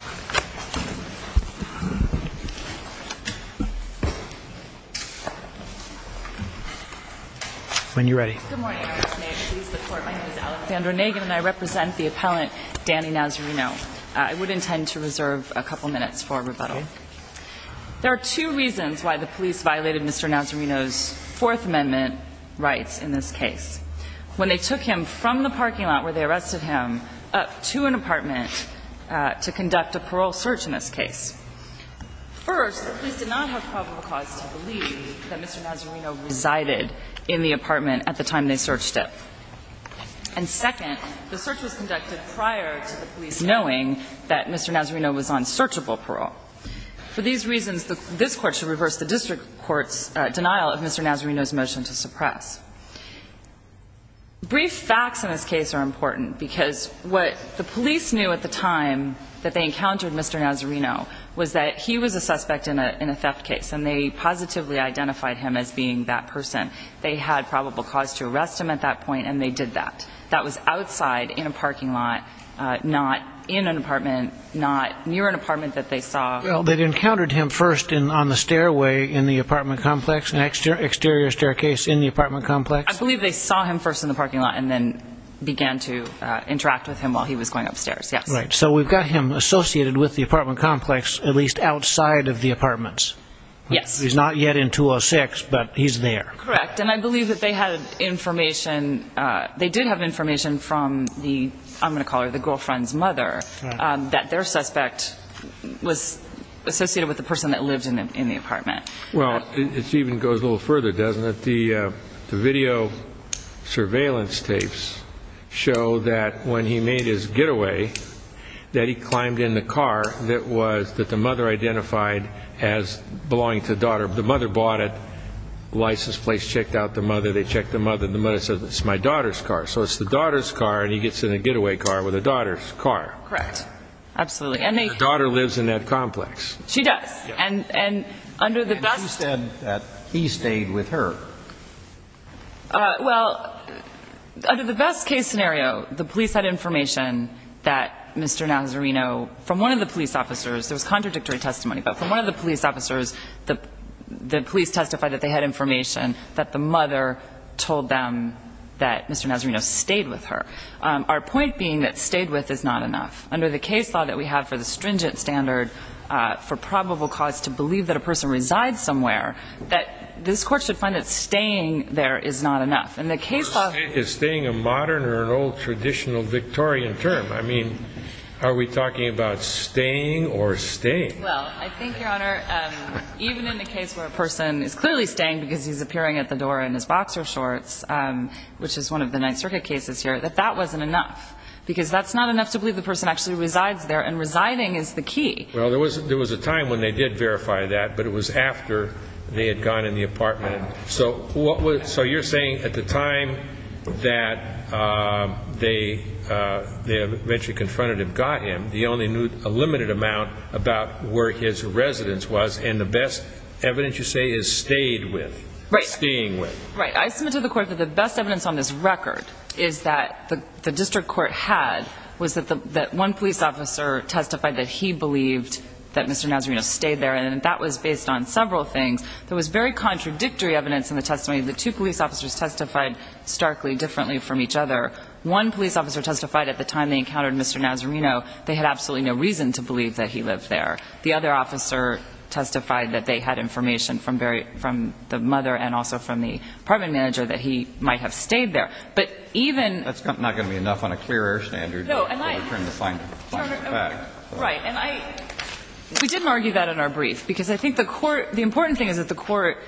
Good morning. My name is Alexandra Nagan and I represent the appellant Danny Nazareno. I would intend to reserve a couple minutes for rebuttal. There are two reasons why the police violated Mr. Nazareno's Fourth Amendment rights in this case. When they took him from the parking lot where they arrested him up to an apartment to conduct a parole search in this case. First, the police did not have probable cause to believe that Mr. Nazareno resided in the apartment at the time they searched it. And second, the search was conducted prior to the police knowing that Mr. Nazareno was on searchable parole. For these reasons, this Court should reverse the district court's denial of Mr. Nazareno's motion to suppress. Brief facts in this case are important because what the police knew at the time that they encountered Mr. Nazareno was that he was a suspect in a theft case and they positively identified him as being that person. They had probable cause to arrest him at that point and they did that. That was outside in a parking lot, not in an apartment, not near an apartment that they saw. Well, they'd encountered him first on the stairway in the apartment complex, an exterior staircase in the apartment complex? I believe they saw him first in the parking lot and then began to interact with him while he was going upstairs, yes. Right. So we've got him associated with the apartment complex, at least outside of the apartments. Yes. He's not yet in 206, but he's there. Correct. And I believe that they had information, they did have information from the, I'm going to call her the girlfriend's mother, that their suspect was associated with the person that lived in the apartment. Well, it even goes a little further, doesn't it? The video surveillance tapes show that when he made his getaway, that he climbed in the car that was, that the mother identified as belonging to the daughter. The mother bought it, the license plate checked out the mother, they checked the mother, the mother said, it's my daughter's car. So it's the daughter's car and he gets in a getaway car with the daughter's car. Correct. Absolutely. And the daughter lives in that complex. She does. And, and under the best case scenario, the police had information that Mr. Nazarino, from one of the police officers, there was contradictory testimony, but from one of the police officers, the police testified that they had information that the mother told them that Mr. Nazarino stayed with her. Our point being that stayed with is not enough. Under the case law that we have for the stringent standard for probable cause to believe that a person resides somewhere, that this court should find that staying there is not enough. And the case law Is staying a modern or an old traditional Victorian term? I mean, are we talking about staying or staying? Well, I think, Your Honor, even in the case where a person is clearly staying because he's appearing at the door in his boxer shorts, which is one of the Ninth Circuit cases here, that that wasn't enough because that's not enough to believe the person actually resides there and residing is the key. Well, there was, there was a time when they did verify that, but it was after they had gone in the apartment. So what was, so you're saying at the time that they eventually confronted him, got him, the only new, a limited amount about where his residence was and the best evidence you say is stayed with, staying with. Right. I submit to the court that the best evidence on this record is that the district court had was that the, that one police officer testified that he believed that Mr. Nazarino stayed there. And that was based on several things. There was very contradictory evidence in the testimony. The two police officers testified starkly differently from each other. One police officer testified at the time they encountered Mr. Nazarino, they had absolutely no reason to believe that he lived there. The other officer testified that they had information from Barry, from the mother and also from the apartment manager that he might have stayed there. But even, that's not going to be enough on a clear air standard. No, and I, right. And I, we didn't argue that in our brief because I think the court, the important thing is that the court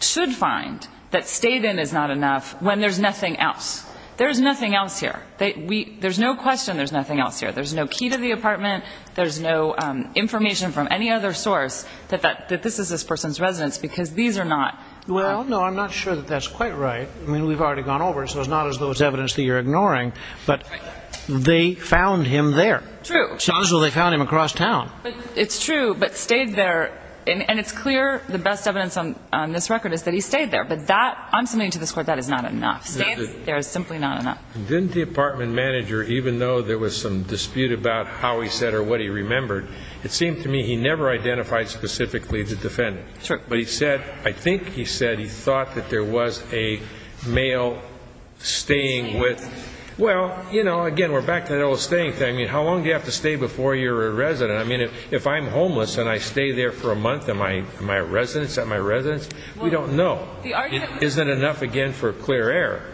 should find that stayed in is not enough when there's nothing else. There is nothing else here that we, there's no question. There's nothing else here. There's no key to the apartment. There's no information from any other source that, that, that this is this person's residence because these are not, well, no, I'm not sure that that's quite right. I mean, we've already gone over it. So it's not as though it's evidence that you're ignoring, but they found him there. True. So they found him across town. It's true, but stayed there. And it's clear the best evidence on, on this record is that he stayed there, but that I'm submitting to this court, that is not enough. There is simply not enough. Didn't the apartment manager, even though there was some dispute about how he said or what he remembered, it seemed to me he never identified specifically the defendant. Sure. But he said, I think he said he thought that there was a male staying with, well, you know, again, we're back to that old staying thing. I mean, how long do you have to stay before you're a resident? I mean, if, if I'm homeless and I stay there for a month, am I, am I a residence? Am I a residence? We don't know. It isn't enough again for clear error.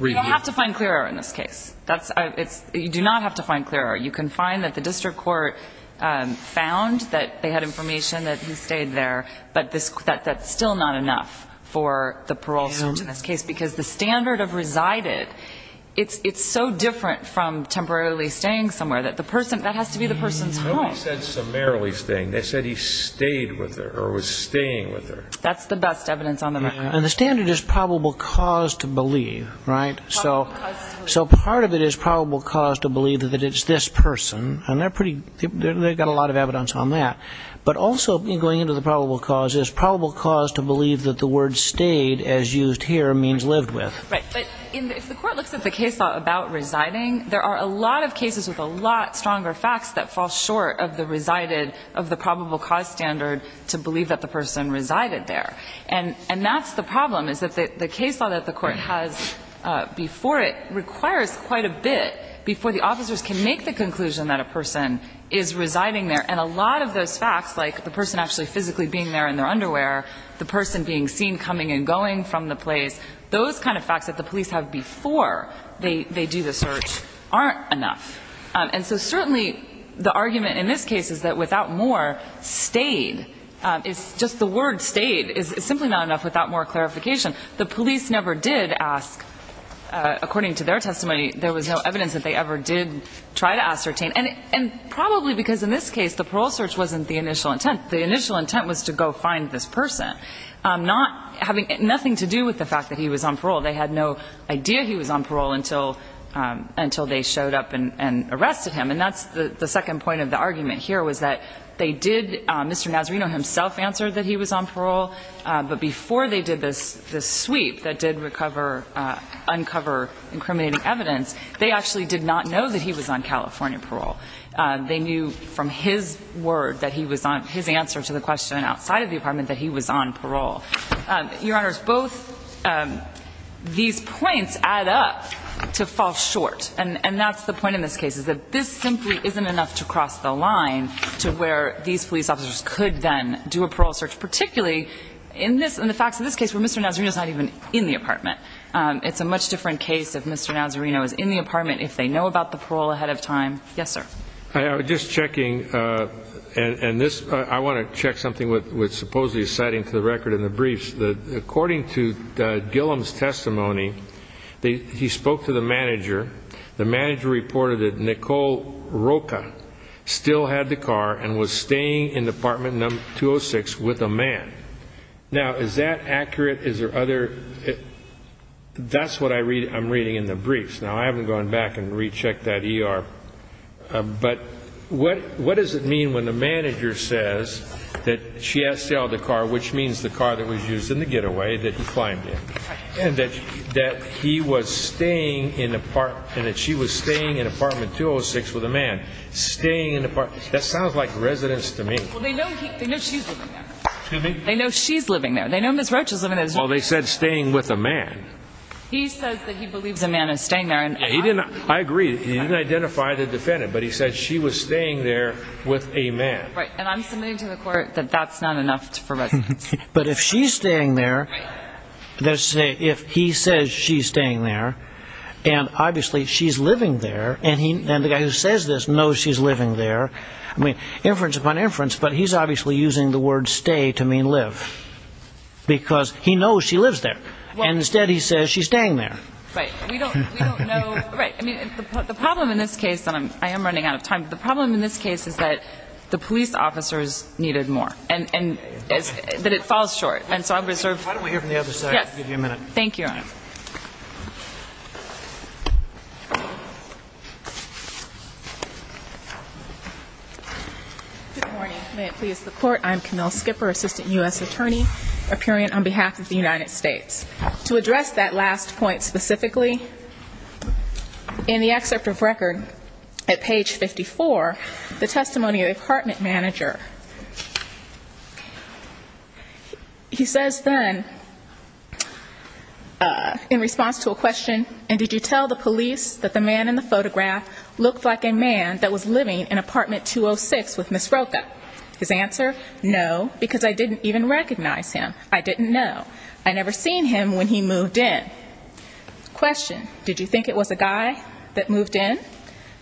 You don't have to find clear error in this case. That's, it's, you do not have to find clear error. You can find that the district court found that they had information that he stayed there, but this, that, that's still not enough for the parole search in this case because the standard of resided, it's, it's so different from temporarily staying somewhere that the person, that has to be the person's home. Nobody said summarily staying. They said he stayed with her or was staying with her. That's the best evidence on the record. And the standard is probable cause to believe, right? So, so part of it is probable cause to believe that it's this person and they're pretty, they've got a lot of evidence on that. But also in going into the probable cause is probable cause to believe that the word stayed as used here means lived with. Right. But if the court looks at the case law about residing, there are a lot of cases with a lot stronger facts that fall short of the resided, of the probable cause standard to believe that the person resided there. And, and that's the problem is that the, the case law that the court has before it requires quite a bit before the officers can make the conclusion that a person is residing there. And a lot of those facts, like the person actually physically being there in their underwear, the person being seen coming and going from the place, those kind of facts that the police have before they, they do the search aren't enough. And so certainly the argument in this case is that without more, stayed, it's just the word stayed is simply not enough without more clarification. The police never did ask, according to their testimony, there was no evidence that they ever did try to ascertain. And, and probably because in this case the parole search wasn't the initial intent. The initial intent was to go find this person. Not having, nothing to do with the fact that he was on parole. They had no idea he was on parole until, until they showed up and, and arrested him. And that's the, the second point of the argument here was that they did, Mr. Nazarino himself answered that he was on parole. But before they did this, this sweep that did recover, uncover incriminating evidence, they actually did not know that he was on California parole. They knew from his word that he was on, his answer to the question outside of the apartment that he was on parole. Your Honors, both these points add up to fall short. And, and that's the point in this case is that this simply isn't enough to cross the line to where these police officers could then do a parole search. Particularly in this, in the facts of this case where Mr. Nazarino's not even in the apartment. It's a much different case if Mr. Nazarino is in the apartment, if they know about the parole ahead of time. Yes, sir. I, I was just checking and, and this, I want to check something with, with supposedly citing to the record in the briefs. The, according to Gilliam's testimony, they, he spoke to the manager. The manager reported that Nicole Roca still had the car and was staying in apartment number 206 with a man. Now, is that accurate? Is there other, that's what I read, I'm reading in the briefs. Now, I haven't gone back and rechecked that ER, but what, what does it mean when the manager says that she has to sell the car, which means the car that was used in the apartment, and that she was staying in apartment 206 with a man, staying in the apartment. That sounds like residence to me. Well, they know he, they know she's living there. Excuse me? They know she's living there. They know Ms. Rocha's living there. Well, they said staying with a man. He says that he believes a man is staying there and I'm. He didn't, I agree. He didn't identify the defendant, but he said she was staying there with a man. Right. And I'm submitting to the court that that's not enough for residence. But if she's staying there, let's say if he says she's staying there and obviously she's living there and he, and the guy who says this knows she's living there, I mean, inference upon inference, but he's obviously using the word stay to mean live because he knows she lives there. And instead he says she's staying there. Right. We don't, we don't know. Right. I mean, the problem in this case, and I'm, I am running out of time, but the problem in this case is that the police officers needed more and that it falls short. And so I've reserved. Why don't we hear from the other side? I'll give you a minute. Thank you. Good morning. May it please the court. I'm Camille Skipper, assistant U.S. attorney appearing on behalf of the United States. To address that last point specifically, in the excerpt of record at page 54, the testimony of the apartment manager, he says then in response to a question, and did you tell the police that the man in the photograph looked like a man that was living in apartment 206 with Ms. Rocha? His answer, no, because I didn't even recognize him. I didn't know. I never seen him when he moved in. Question. Did you think it was a guy that moved in?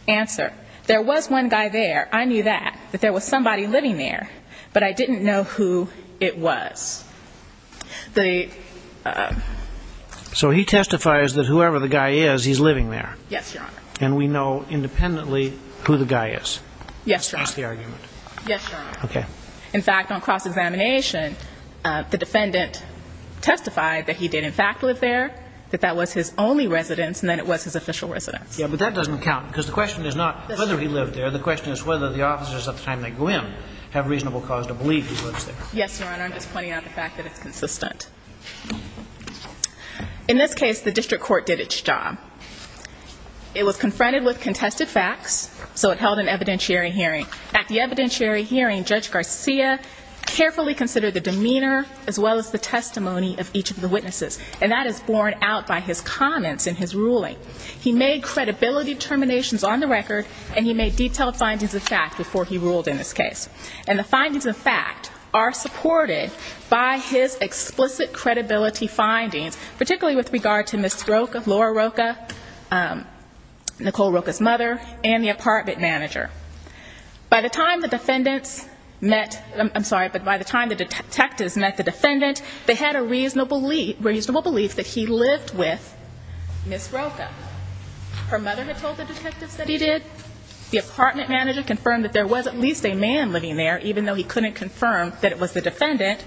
Answer. There was one guy there. I knew that. That there was somebody living there, but I didn't know who it was. The. So he testifies that whoever the guy is, he's living there. Yes, Your Honor. And we know independently who the guy is. Yes, Your Honor. That's the argument. Yes, Your Honor. Okay. In fact, on cross-examination, the defendant testified that he did in fact live there, that that was his only residence, and that it was his official residence. Yeah, but that doesn't count, because the question is not whether he lived there. The question is whether the officers at the time they go in have reasonable cause to believe he lives there. Yes, Your Honor. I'm just pointing out the fact that it's consistent. In this case, the district court did its job. It was confronted with contested facts, so it held an evidentiary hearing. At the evidentiary hearing, Judge Garcia carefully considered the demeanor as well as the testimony of each of the witnesses, and that is borne out by his comments in his ruling. He made credibility determinations on the record, and he made detailed findings of fact before he ruled in this case. And the findings of fact are supported by his explicit credibility findings, particularly with regard to Ms. Roca, Laura Roca, Nicole Roca's mother, and the apartment manager. By the time the defendants met, I'm sorry, but by the time the detectives met the defendant, they had a reasonable belief that he lived with Ms. Roca. Her mother had told the detectives that he did. The apartment manager confirmed that there was at least a man living there, even though he couldn't confirm that it was the defendant.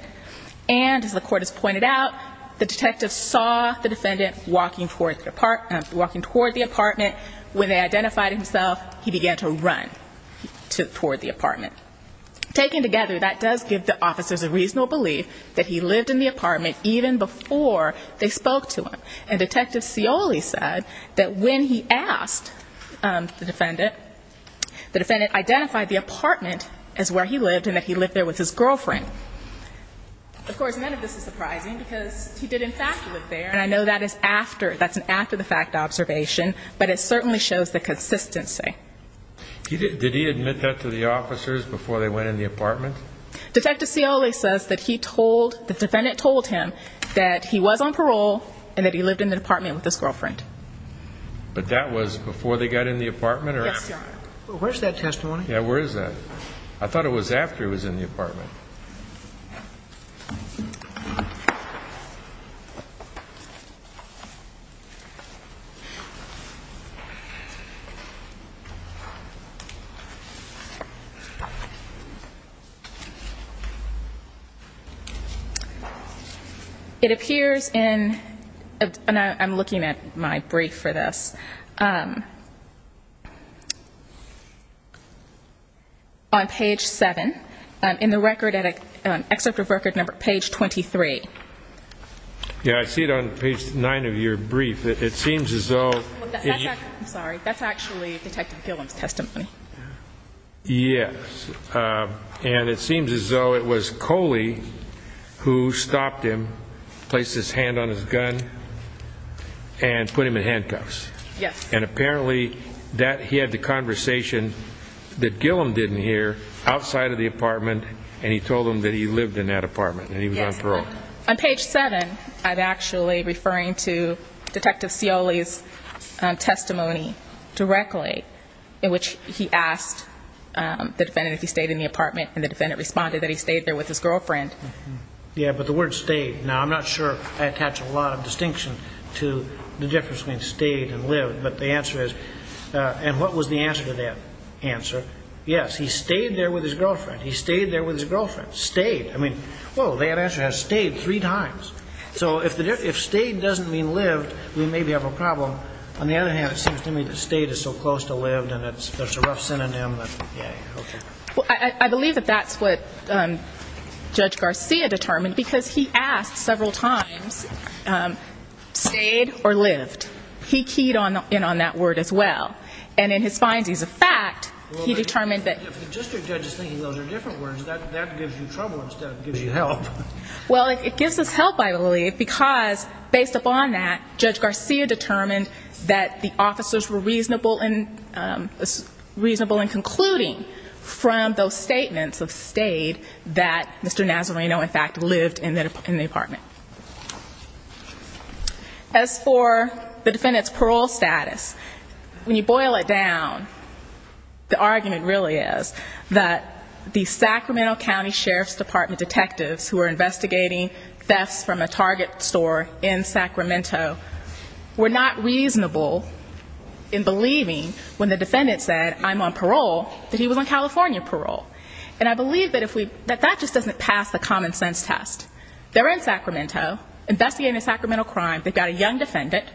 And, as the court has pointed out, the detectives saw the defendant walking toward the apartment. When they identified himself, he began to run toward the apartment. Taken together, that does give the officers a reasonable belief that he lived in the apartment even before they spoke to him. And Detective Scioli said that when he asked the defendant, the defendant identified the apartment as where he lived and that he lived there with his girlfriend. Of course, none of this is surprising because he did, in fact, live there, and I know that that's an after-the-fact observation, but it certainly shows the consistency. Did he admit that to the officers before they went in the apartment? Detective Scioli says that the defendant told him that he was on parole and that he lived in the apartment with his girlfriend. But that was before they got in the apartment? Yes, Your Honor. Well, where's that testimony? Yeah, where is that? I thought it was after he was in the apartment. It appears in, and I'm looking at my brief for this, on page 7, in the record, in the excerpt of record number, page 23. Yeah, I see it on page 9. Page 9. Page 9. Page 9. Page 9. I'm sorry, that's actually Detective Gillum's testimony. Yes, and it seems as though it was Coley who stopped him, placed his hand on his gun, and put him in handcuffs. Yes. And apparently, he had the conversation that Gillum didn't hear outside of the apartment, and he told him that he lived in that apartment and he was on parole. On page 7, I'm actually referring to Detective Coley's testimony directly, in which he asked the defendant if he stayed in the apartment, and the defendant responded that he stayed there with his girlfriend. Yeah, but the word stayed. Now, I'm not sure I attach a lot of distinction to the difference between stayed and lived, but the answer is, and what was the answer to that answer? Yes, he stayed there with his girlfriend. He stayed there with his girlfriend. Stayed. I mean, whoa, that answer has stayed three times. So if stayed doesn't mean lived, we maybe have a problem. On the other hand, it seems to me that stayed is so close to lived, and that's a rough synonym that, yeah, okay. Well, I believe that that's what Judge Garcia determined, because he asked several times stayed or lived. He keyed in on that word as well, and in his findings of fact, he determined that. If the district judge is thinking those are different words, that gives you trouble instead of gives you help. Well, it gives us help, I believe, because based upon that, Judge Garcia determined that the officers were reasonable in concluding from those statements of stayed that Mr. Nazareno, in fact, lived in the apartment. As for the defendant's parole status, when you boil it down, the argument really is that the Sacramento County Sheriff's Department detectives who are investigating thefts from a Target store in Sacramento were not reasonable in believing when the defendant said, I'm on parole, that he was on California parole. And I believe that that just doesn't pass the common sense test. They're in Sacramento investigating a Sacramento crime. They've got a young defendant,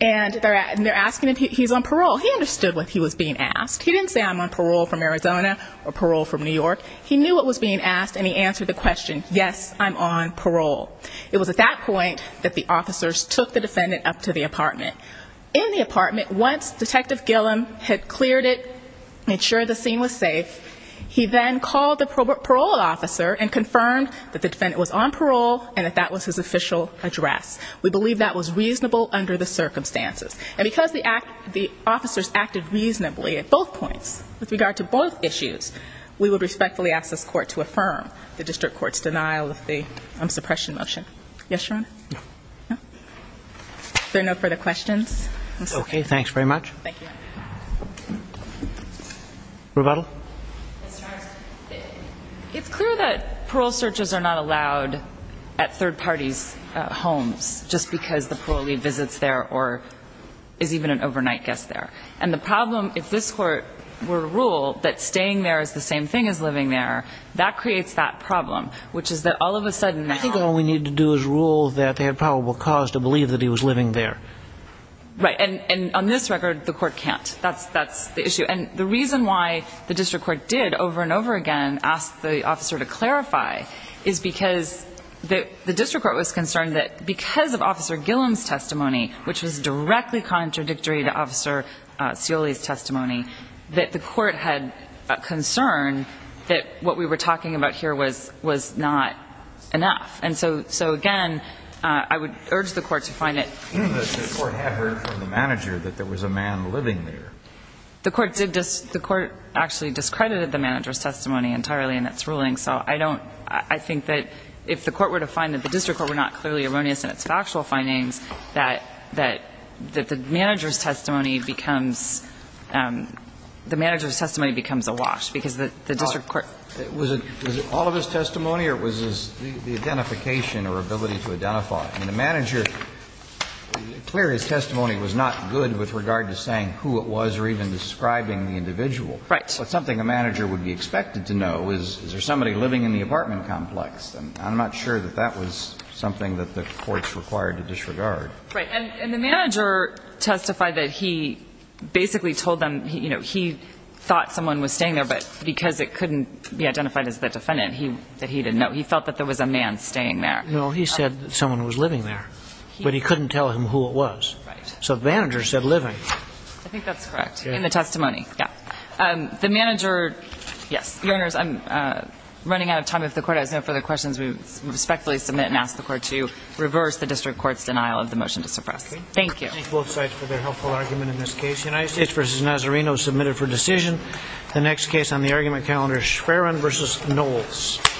and they're asking if he's on parole. He understood what he was being asked. He didn't say, I'm on parole from Arizona or parole from New York. He knew what was being asked, and he answered the question, yes, I'm on parole. It was at that point that the officers took the defendant up to the apartment. In the apartment, once Detective Gillum had cleared it, made sure the scene was safe, he then called the parole officer and confirmed that the defendant was on parole and that that was his official address. We believe that was reasonable under the circumstances. And because the officers acted reasonably at both points with regard to both issues, we would respectfully ask this court to affirm the district court's denial of the suppression motion. Yes, Your Honor? No. No? There are no further questions? Okay, thanks very much. Thank you. Rebuttal? Yes, Your Honor. It's clear that parole searches are not allowed at third parties' homes just because the parolee visits there or is even an overnight guest there. And the problem, if this court were to rule that staying there is the same thing as living there, that creates that problem, which is that all of a sudden... I think all we need to do is rule that they had probable cause to believe that he was living there. Right. And on this record, the court can't. That's the issue. And the reason why the district court did over and over again ask the officer to clarify is because the district court was concerned that because of Officer Gillum's testimony, which was directly contradictory to Officer Scioli's testimony, that the court had concern that what we were talking about here was not enough. And so, again, I would urge the court to find it... The court had heard from the manager that there was a man living there. The court actually discredited the manager's testimony entirely in its ruling, so I don't... I think that if the court were to find that the district court were not clearly erroneous in its factual findings, that the manager's testimony becomes... The manager's testimony becomes a wash because the district court... Was it all of his testimony or was it the identification or ability to identify? I mean, the manager... Clearly, his testimony was not good with regard to saying who it was or even describing the individual. Right. Something a manager would be expected to know is, is there somebody living in the apartment complex? And I'm not sure that that was something that the courts required to disregard. And the manager testified that he basically told them he thought someone was staying there, but because it couldn't be identified as the defendant that he didn't know, he felt that there was a man staying there. Well, he said someone was living there, but he couldn't tell him who it was. So the manager said living. I think that's correct. In the testimony. Yeah. The manager... Yes. Your Honors, I'm running out of time. If the court has no further questions, we respectfully submit and ask the court to reverse the district court's denial of the motion to suppress. Thank you. Thank both sides for their helpful argument in this case. United States v. Nazareno submitted for decision. The next case on the argument calendar is Schwerin v. Knowles.